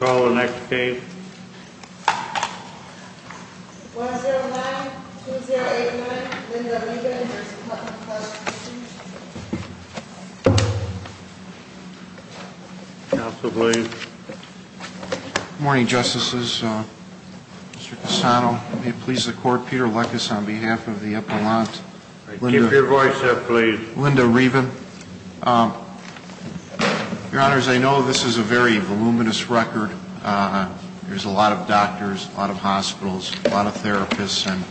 Call the next case. 109-2089, Linda Reaven. Counsel, please. Good morning, Justices. Mr. Cassano, may it please the Court, Peter Lekas on behalf of the Appellant. Keep your voice up, please. Linda Reaven. Your Honors, I know this is a very voluminous record. There's a lot of doctors, a lot of hospitals, a lot of therapists. And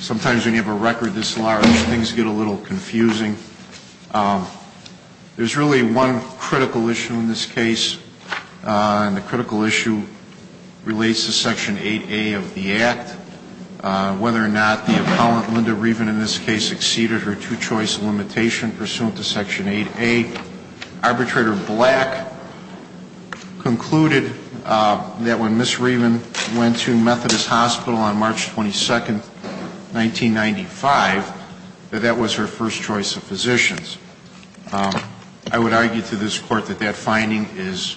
sometimes when you have a record this large, things get a little confusing. There's really one critical issue in this case, and the critical issue relates to Section 8A of the Act. Whether or not the Appellant, Linda Reaven in this case, exceeded her two-choice limitation pursuant to Section 8A. Arbitrator Black concluded that when Ms. Reaven went to Methodist Hospital on March 22, 1995, that that was her first choice of physicians. I would argue to this Court that that finding is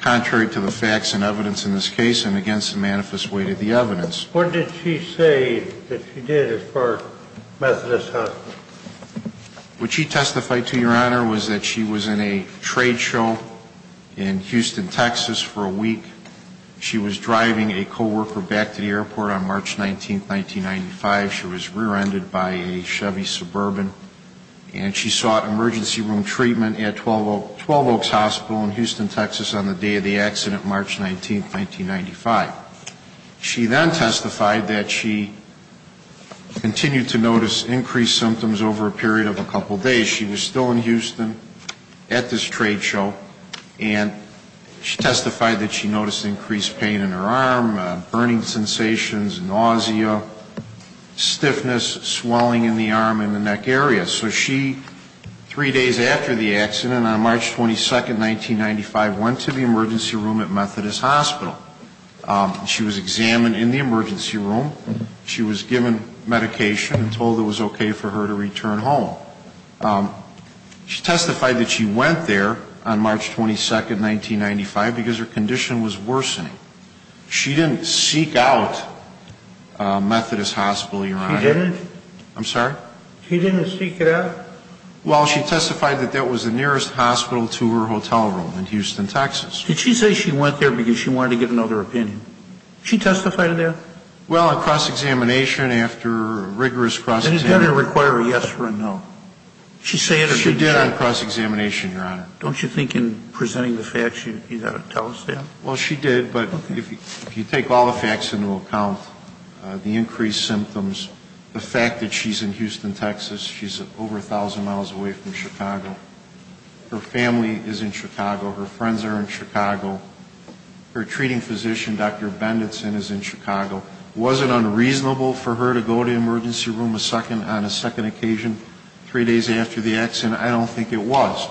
contrary to the facts and evidence in this case and against the manifest weight of the evidence. What did she say that she did as far as Methodist Hospital? What she testified to, Your Honor, was that she was in a trade show in Houston, Texas for a week. She was driving a co-worker back to the airport on March 19, 1995. She was rear-ended by a Chevy Suburban. And she sought emergency room treatment at 12 Oaks Hospital in Houston, Texas on the day of the accident, March 19, 1995. She then testified that she continued to notice increased symptoms over a period of a couple days. She was still in Houston at this trade show. And she testified that she noticed increased pain in her arm, burning sensations, nausea, stiffness, swelling in the arm and the neck area. So she, three days after the accident, on March 22, 1995, went to the emergency room at Methodist Hospital. She was examined in the emergency room. She was given medication and told it was okay for her to return home. She testified that she went there on March 22, 1995, because her condition was worsening. She didn't seek out Methodist Hospital, Your Honor. She didn't? I'm sorry? She didn't seek it out? Well, she testified that that was the nearest hospital to her hotel room in Houston, Texas. Did she say she went there because she wanted to get another opinion? She testified to that? Well, in cross-examination, after rigorous cross-examination. It's better to require a yes or a no. She said that she did. She did on cross-examination, Your Honor. Don't you think in presenting the facts, you've got to tell us that? Well, she did, but if you take all the facts into account, the increased symptoms, the fact that she's in Houston, Texas, she's over 1,000 miles away from Chicago. Her family is in Chicago. Her friends are in Chicago. Her treating physician, Dr. Benditson, is in Chicago. Was it unreasonable for her to go to the emergency room on a second occasion, three days after the accident? I don't think it was.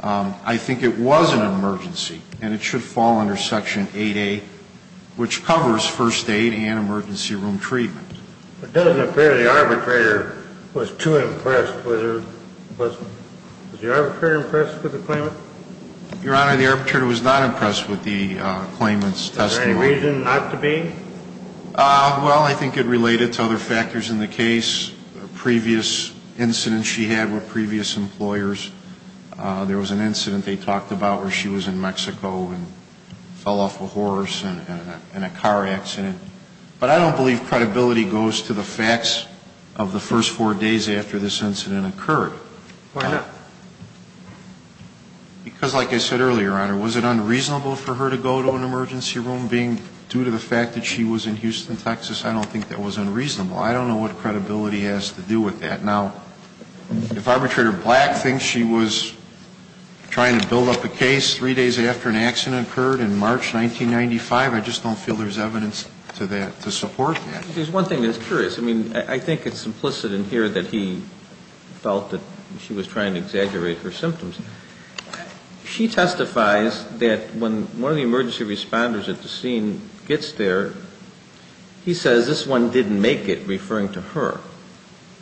I think it was an emergency, and it should fall under Section 8A, which covers first aid and emergency room treatment. It doesn't appear the arbitrator was too impressed. Was the arbitrator impressed with the claimant? Your Honor, the arbitrator was not impressed with the claimant's testimony. Was there any reason not to be? Well, I think it related to other factors in the case. There was a previous incident she had with previous employers. There was an incident they talked about where she was in Mexico and fell off a horse in a car accident. But I don't believe credibility goes to the facts of the first four days after this incident occurred. Why not? Because, like I said earlier, Your Honor, was it unreasonable for her to go to an emergency room, being due to the fact that she was in Houston, Texas? I don't think that was unreasonable. I don't know what credibility has to do with that. Now, if arbitrator Black thinks she was trying to build up a case three days after an accident occurred in March 1995, I just don't feel there's evidence to support that. There's one thing that's curious. I mean, I think it's implicit in here that he felt that she was trying to exaggerate her symptoms. She testifies that when one of the emergency responders at the scene gets there, he says, this one didn't make it, referring to her.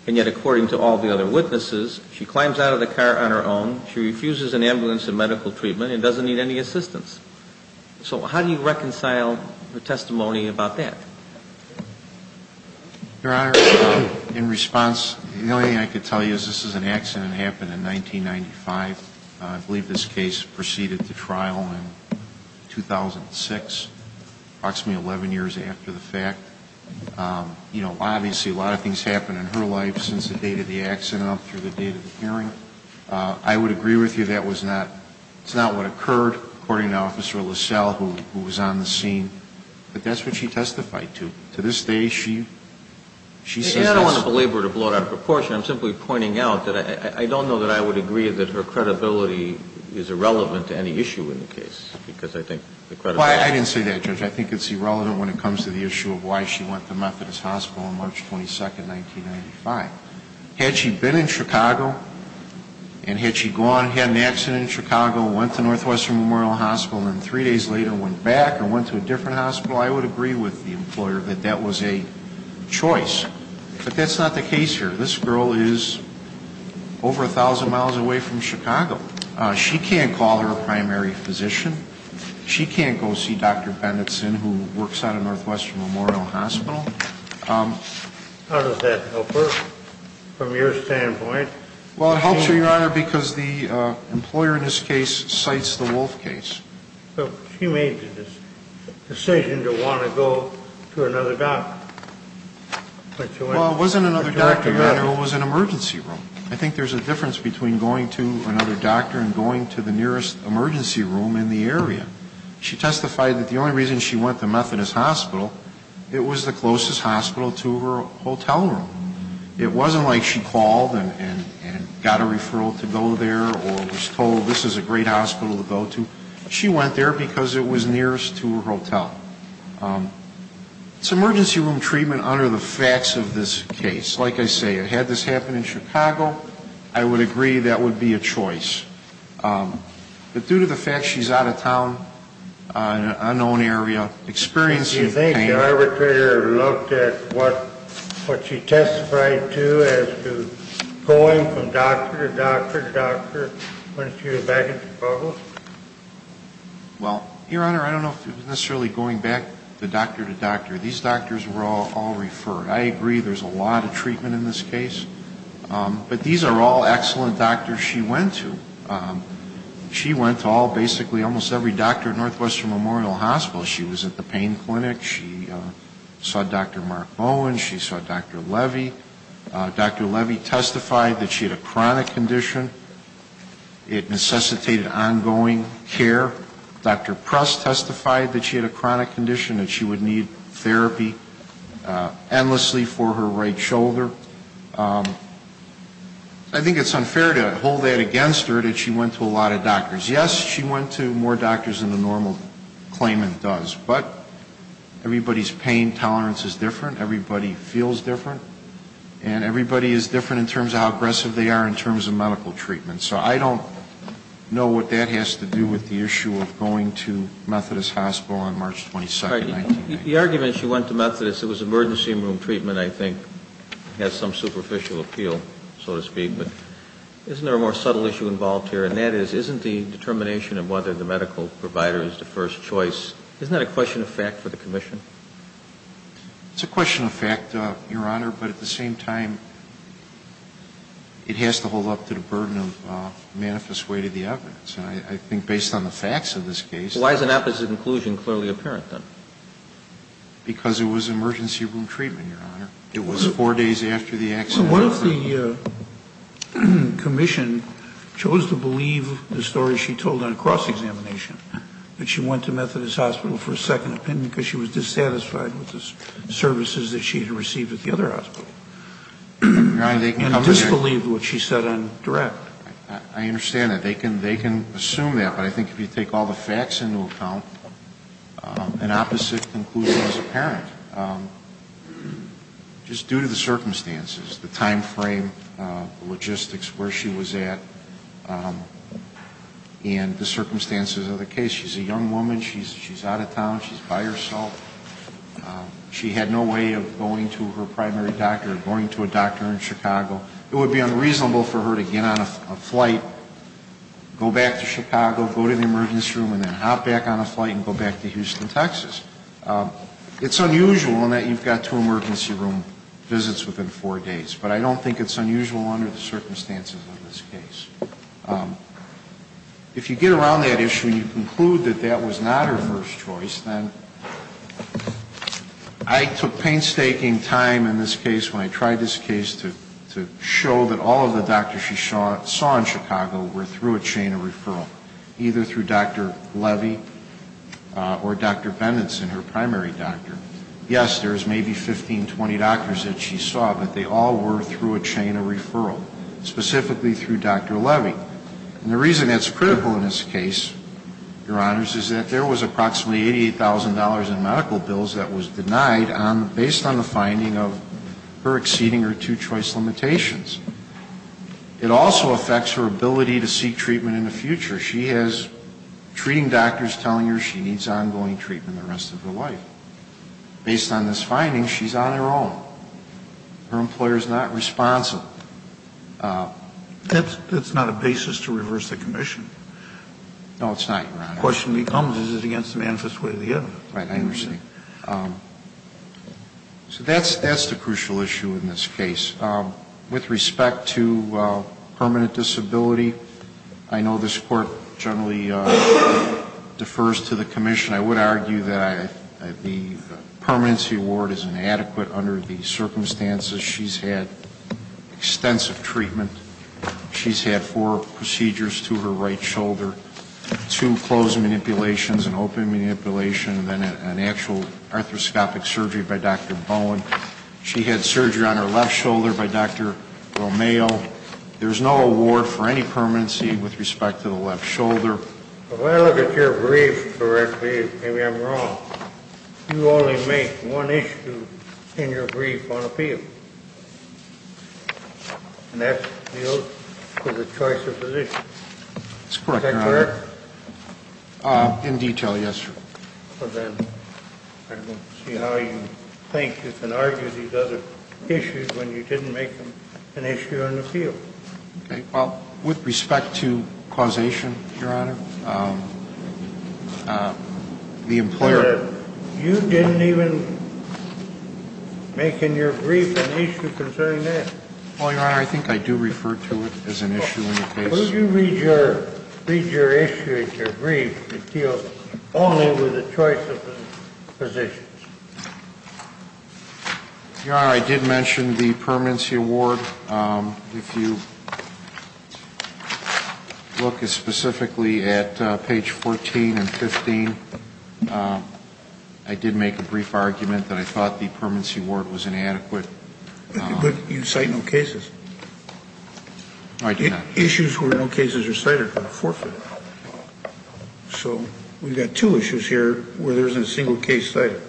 And yet, according to all the other witnesses, she climbs out of the car on her own, she refuses an ambulance and medical treatment, and doesn't need any assistance. So how do you reconcile her testimony about that? Your Honor, in response, the only thing I can tell you is this is an accident that happened in 1995. I believe this case proceeded to trial in 2006, approximately 11 years after the fact. You know, obviously, a lot of things happened in her life since the date of the accident up through the date of the hearing. I would agree with you that it's not what occurred, according to Officer LaSalle, who was on the scene. But that's what she testified to. To this day, she says this. I don't want to belabor it or blow it out of proportion. I'm simply pointing out that I don't know that I would agree that her credibility is irrelevant to any issue in the case, because I think the credibility... Well, I didn't say that, Judge. I think it's irrelevant when it comes to the issue of why she went to Methodist Hospital on March 22, 1995. Had she been in Chicago, and had she gone, had an accident in Chicago, went to Northwestern Memorial Hospital, and three days later went back and went to a different hospital, I would agree with the employer that that was a choice. But that's not the case here. This girl is over 1,000 miles away from Chicago. She can't call her primary physician. She can't go see Dr. Bennetson, who works out of Northwestern Memorial Hospital. How does that help her from your standpoint? Well, it helps her, Your Honor, because the employer in this case cites the Wolf case. So she made the decision to want to go to another doctor. Well, it wasn't another doctor, Your Honor. It was an emergency room. I think there's a difference between going to another doctor and going to the nearest emergency room in the area. She testified that the only reason she went to Methodist Hospital, it was the closest hospital to her hotel room. It wasn't like she called and got a referral to go there or was told this is a great hospital to go to. She went there because it was nearest to her hotel. It's emergency room treatment under the facts of this case. Like I say, had this happened in Chicago, I would agree that would be a choice. But due to the fact she's out of town in an unknown area, experiencing pain. Do you think the arbitrator looked at what she testified to as to going from doctor to doctor to doctor when she was back in Chicago? Well, Your Honor, I don't know if it was necessarily going back to doctor to doctor. These doctors were all referred. I agree there's a lot of treatment in this case. But these are all excellent doctors she went to. She went to all, basically almost every doctor at Northwestern Memorial Hospital. She was at the pain clinic. She saw Dr. Mark Bowen. She saw Dr. Levy. Dr. Levy testified that she had a chronic condition. It necessitated ongoing care. Dr. Press testified that she had a chronic condition and she would need therapy endlessly for her right shoulder. I think it's unfair to hold that against her that she went to a lot of doctors. Yes, she went to more doctors than the normal claimant does. But everybody's pain tolerance is different. Everybody feels different. And everybody is different in terms of how aggressive they are in terms of medical treatment. So I don't know what that has to do with the issue of going to Methodist Hospital on March 22, 1990. The argument she went to Methodist, it was emergency room treatment, I think, has some superficial appeal, so to speak. But isn't there a more subtle issue involved here? And that is, isn't the determination of whether the medical provider is the first choice, isn't that a question of fact for the commission? It's a question of fact, Your Honor, but at the same time, it has to hold up to the burden of manifest way to the evidence. And I think based on the facts of this case. Why is an apposite inclusion clearly apparent, then? Because it was emergency room treatment, Your Honor. It was four days after the accident. What if the commission chose to believe the story she told on a cross-examination, that she went to Methodist Hospital for a second opinion because she was dissatisfied with the services that she had received at the other hospital. And disbelieved what she said on direct. I understand that. They can assume that. But I think if you take all the facts into account, an opposite inclusion is apparent. Just due to the circumstances, the time frame, the logistics, where she was at, and the circumstances of the case. She's a young woman. She's out of town. She's by herself. She had no way of going to her primary doctor or going to a doctor in Chicago. It would be unreasonable for her to get on a flight, go back to Chicago, go to the emergency room, and then hop back on a flight and go back to Houston, Texas. It's unusual in that you've got two emergency room visits within four days. But I don't think it's unusual under the circumstances of this case. If you get around that issue and you conclude that that was not her first choice, then I took painstaking time in this case, when I tried this case, to show that all of the doctors she saw in Chicago were through a chain of referral. Either through Dr. Levy or Dr. Benenson, her primary doctor. Yes, there's maybe 15, 20 doctors that she saw, but they all were through a chain of referral, specifically through Dr. Levy. And the reason that's critical in this case, Your Honors, is that there was approximately $88,000 in medical bills that was denied based on the finding of her exceeding her two-choice limitations. It also affects her ability to seek treatment in the future. She has treating doctors telling her she needs ongoing treatment the rest of her life. Based on this finding, she's on her own. Her employer is not responsible. That's not a basis to reverse the commission. No, it's not, Your Honor. The question becomes, is it against the manifest way of the evidence? Right, I understand. So that's the crucial issue in this case. With respect to permanent disability, I know this Court generally defers to the commission. I would argue that the permanency award is inadequate under the circumstances she's had extensive treatment. She's had four procedures to her right shoulder, two closed manipulations, an open manipulation, and an actual arthroscopic surgery by Dr. Bowen. She had surgery on her left shoulder by Dr. Romeo. There's no award for any permanency with respect to the left shoulder. If I look at your brief correctly, maybe I'm wrong. You only make one issue in your brief on appeal. And that's the oath for the choice of physician. That's correct, Your Honor. Is that correct? In detail, yes, Your Honor. Okay. I don't see how you think you can argue these other issues when you didn't make them an issue on appeal. Okay. Well, with respect to causation, Your Honor, the employer ---- You didn't even make in your brief an issue concerning that. Well, Your Honor, I think I do refer to it as an issue in the case. When you read your issue in your brief, it deals only with the choice of physician. Your Honor, I did mention the permanency award. If you look specifically at page 14 and 15, I did make a brief argument that I thought the permanency award was inadequate. But you cite no cases. No, I do not. Issues where no cases are cited are forfeit. So we've got two issues here where there isn't a single case cited.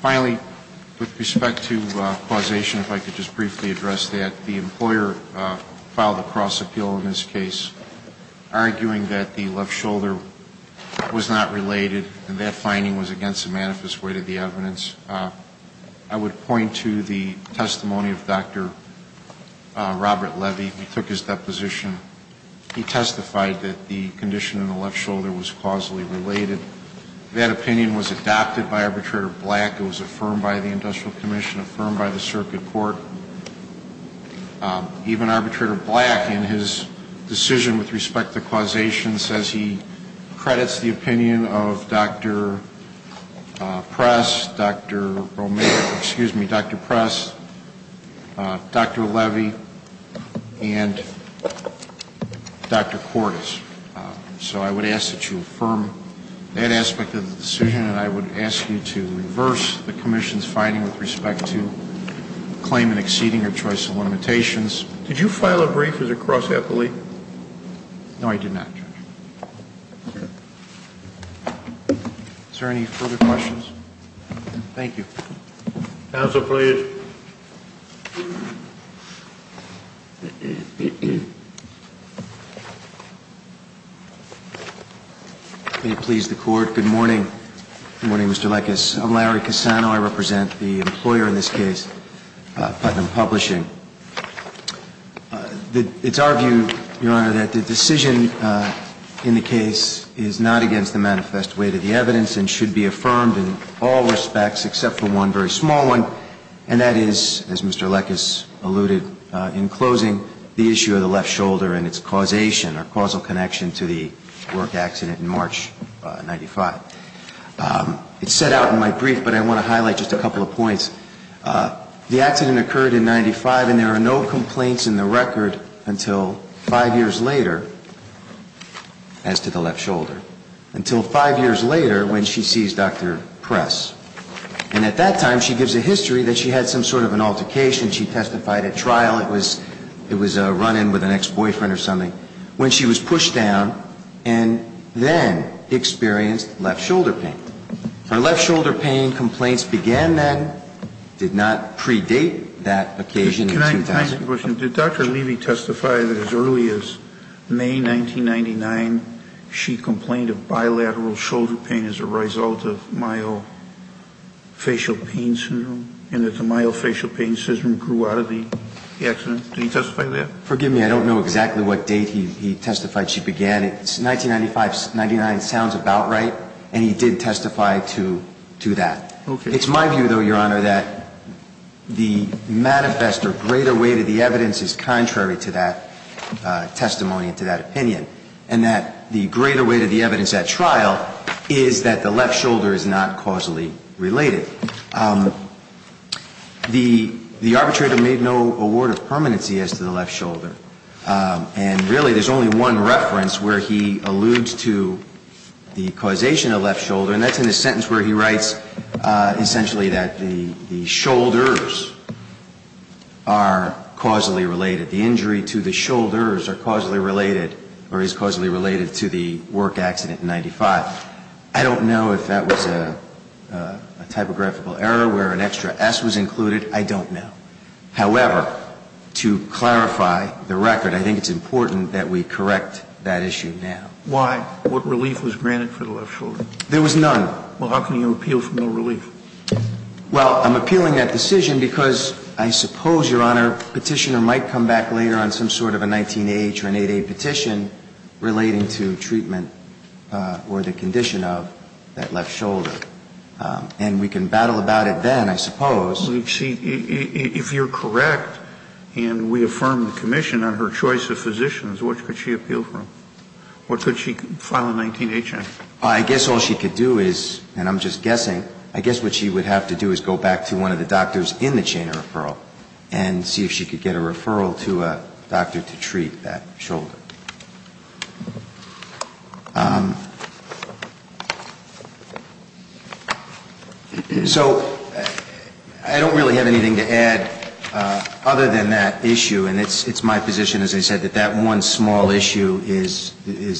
Finally, with respect to causation, if I could just briefly address that. The employer filed a cross appeal in this case, arguing that the left shoulder was not related and that finding was against the manifest weight of the evidence. I would point to the testimony of Dr. Robert Levy. He took his deposition. He testified that the condition in the left shoulder was causally related. That opinion was adopted by Arbitrator Black. It was affirmed by the Industrial Commission, affirmed by the circuit court. Even Arbitrator Black, in his decision with respect to causation, says he credits the opinion of Dr. Press, Dr. Romero, excuse me, Dr. Press, Dr. Levy, and Dr. Cordes. So I would ask that you affirm that aspect of the decision. And I would ask you to reverse the commission's finding with respect to the claim in exceeding your choice of limitations. Did you file a brief as a cross appellee? No, I did not. Is there any further questions? Thank you. Counsel, please. May it please the Court, good morning. Good morning, Mr. Lekas. I'm Larry Cassano. I represent the employer in this case, Putnam Publishing. It's our view, Your Honor, that the decision in the case is not against the manifest weight of the evidence and should be affirmed in all respects except for one very small one, and that is, as Mr. Lekas alluded in closing, the issue of the left shoulder and its causation or causal connection to the work accident in March of 1995. It's set out in my brief, but I want to highlight just a couple of points. The accident occurred in 1995, and there are no complaints in the record until five years later, as to the left shoulder, until five years later when she sees Dr. Press. And at that time, she gives a history that she had some sort of an altercation. She testified at trial. It was a run-in with an ex-boyfriend or something when she was pushed down and then experienced left shoulder pain. Her left shoulder pain complaints began then, did not predate that occasion in 2000. Can I ask a question? Did Dr. Levy testify that as early as May 1999, she complained of bilateral shoulder pain as a result of myofacial pain syndrome, and that the myofacial pain syndrome grew out of the accident? Did he testify to that? Forgive me. I don't know exactly what date he testified she began it. 1995-99 sounds about right, and he did testify to that. It's my view, though, Your Honor, that the manifest or greater weight of the evidence is contrary to that testimony and to that opinion, and that the greater weight of the evidence at trial is that the left shoulder is not causally related. The arbitrator made no award of permanency as to the left shoulder. And really, there's only one reference where he alludes to the causation of left shoulder, and that's in the sentence where he writes essentially that the shoulders are causally related. The injury to the shoulders are causally related or is causally related to the work accident in 1995. I don't know if that was a typographical error where an extra S was included. I don't know. However, to clarify the record, I think it's important that we correct that issue now. Why? What relief was granted for the left shoulder? There was none. Well, how can you appeal for no relief? Well, I'm appealing that decision because I suppose, Your Honor, Petitioner might come back later on some sort of a 19-H or an 8-H petition relating to treatment or the condition of that left shoulder. And we can battle about it then, I suppose. Well, see, if you're correct and we affirm the commission on her choice of physicians, what could she appeal for? What could she file a 19-H on? I guess all she could do is, and I'm just guessing, I guess what she would have to do is go back to one of the doctors in the chain of referral and see if she could get a referral to a doctor to treat that shoulder. So I don't really have anything to add other than that issue. And it's my position, as I said, that that one small issue is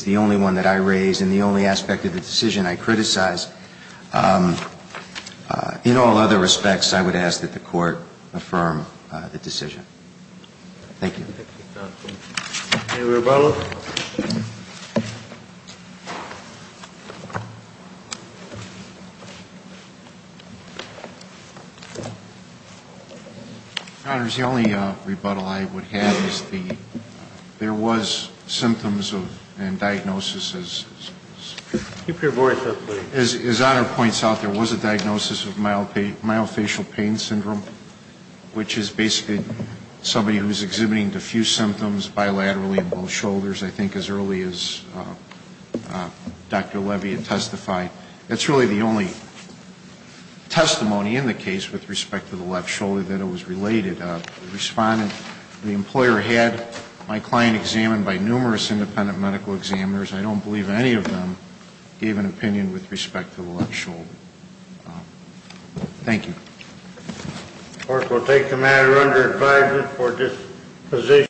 the only one that I raise and the only aspect of the decision I criticize. In all other respects, I would ask that the Court affirm the decision. Thank you. Any rebuttals? Your Honors, the only rebuttal I would have is there was symptoms and diagnosis as Honor points out, there was a diagnosis of myofascial pain syndrome, which is basically somebody who is exhibiting diffuse symptoms bilaterally in both shoulders, I think as early as Dr. Levy had testified. That's really the only testimony in the case with respect to the left shoulder that it was related. The respondent, the employer had my client examined by numerous independent medical examiners. I don't believe any of them gave an opinion with respect to the left shoulder. Thank you. The Court will take the matter under advisement for this position.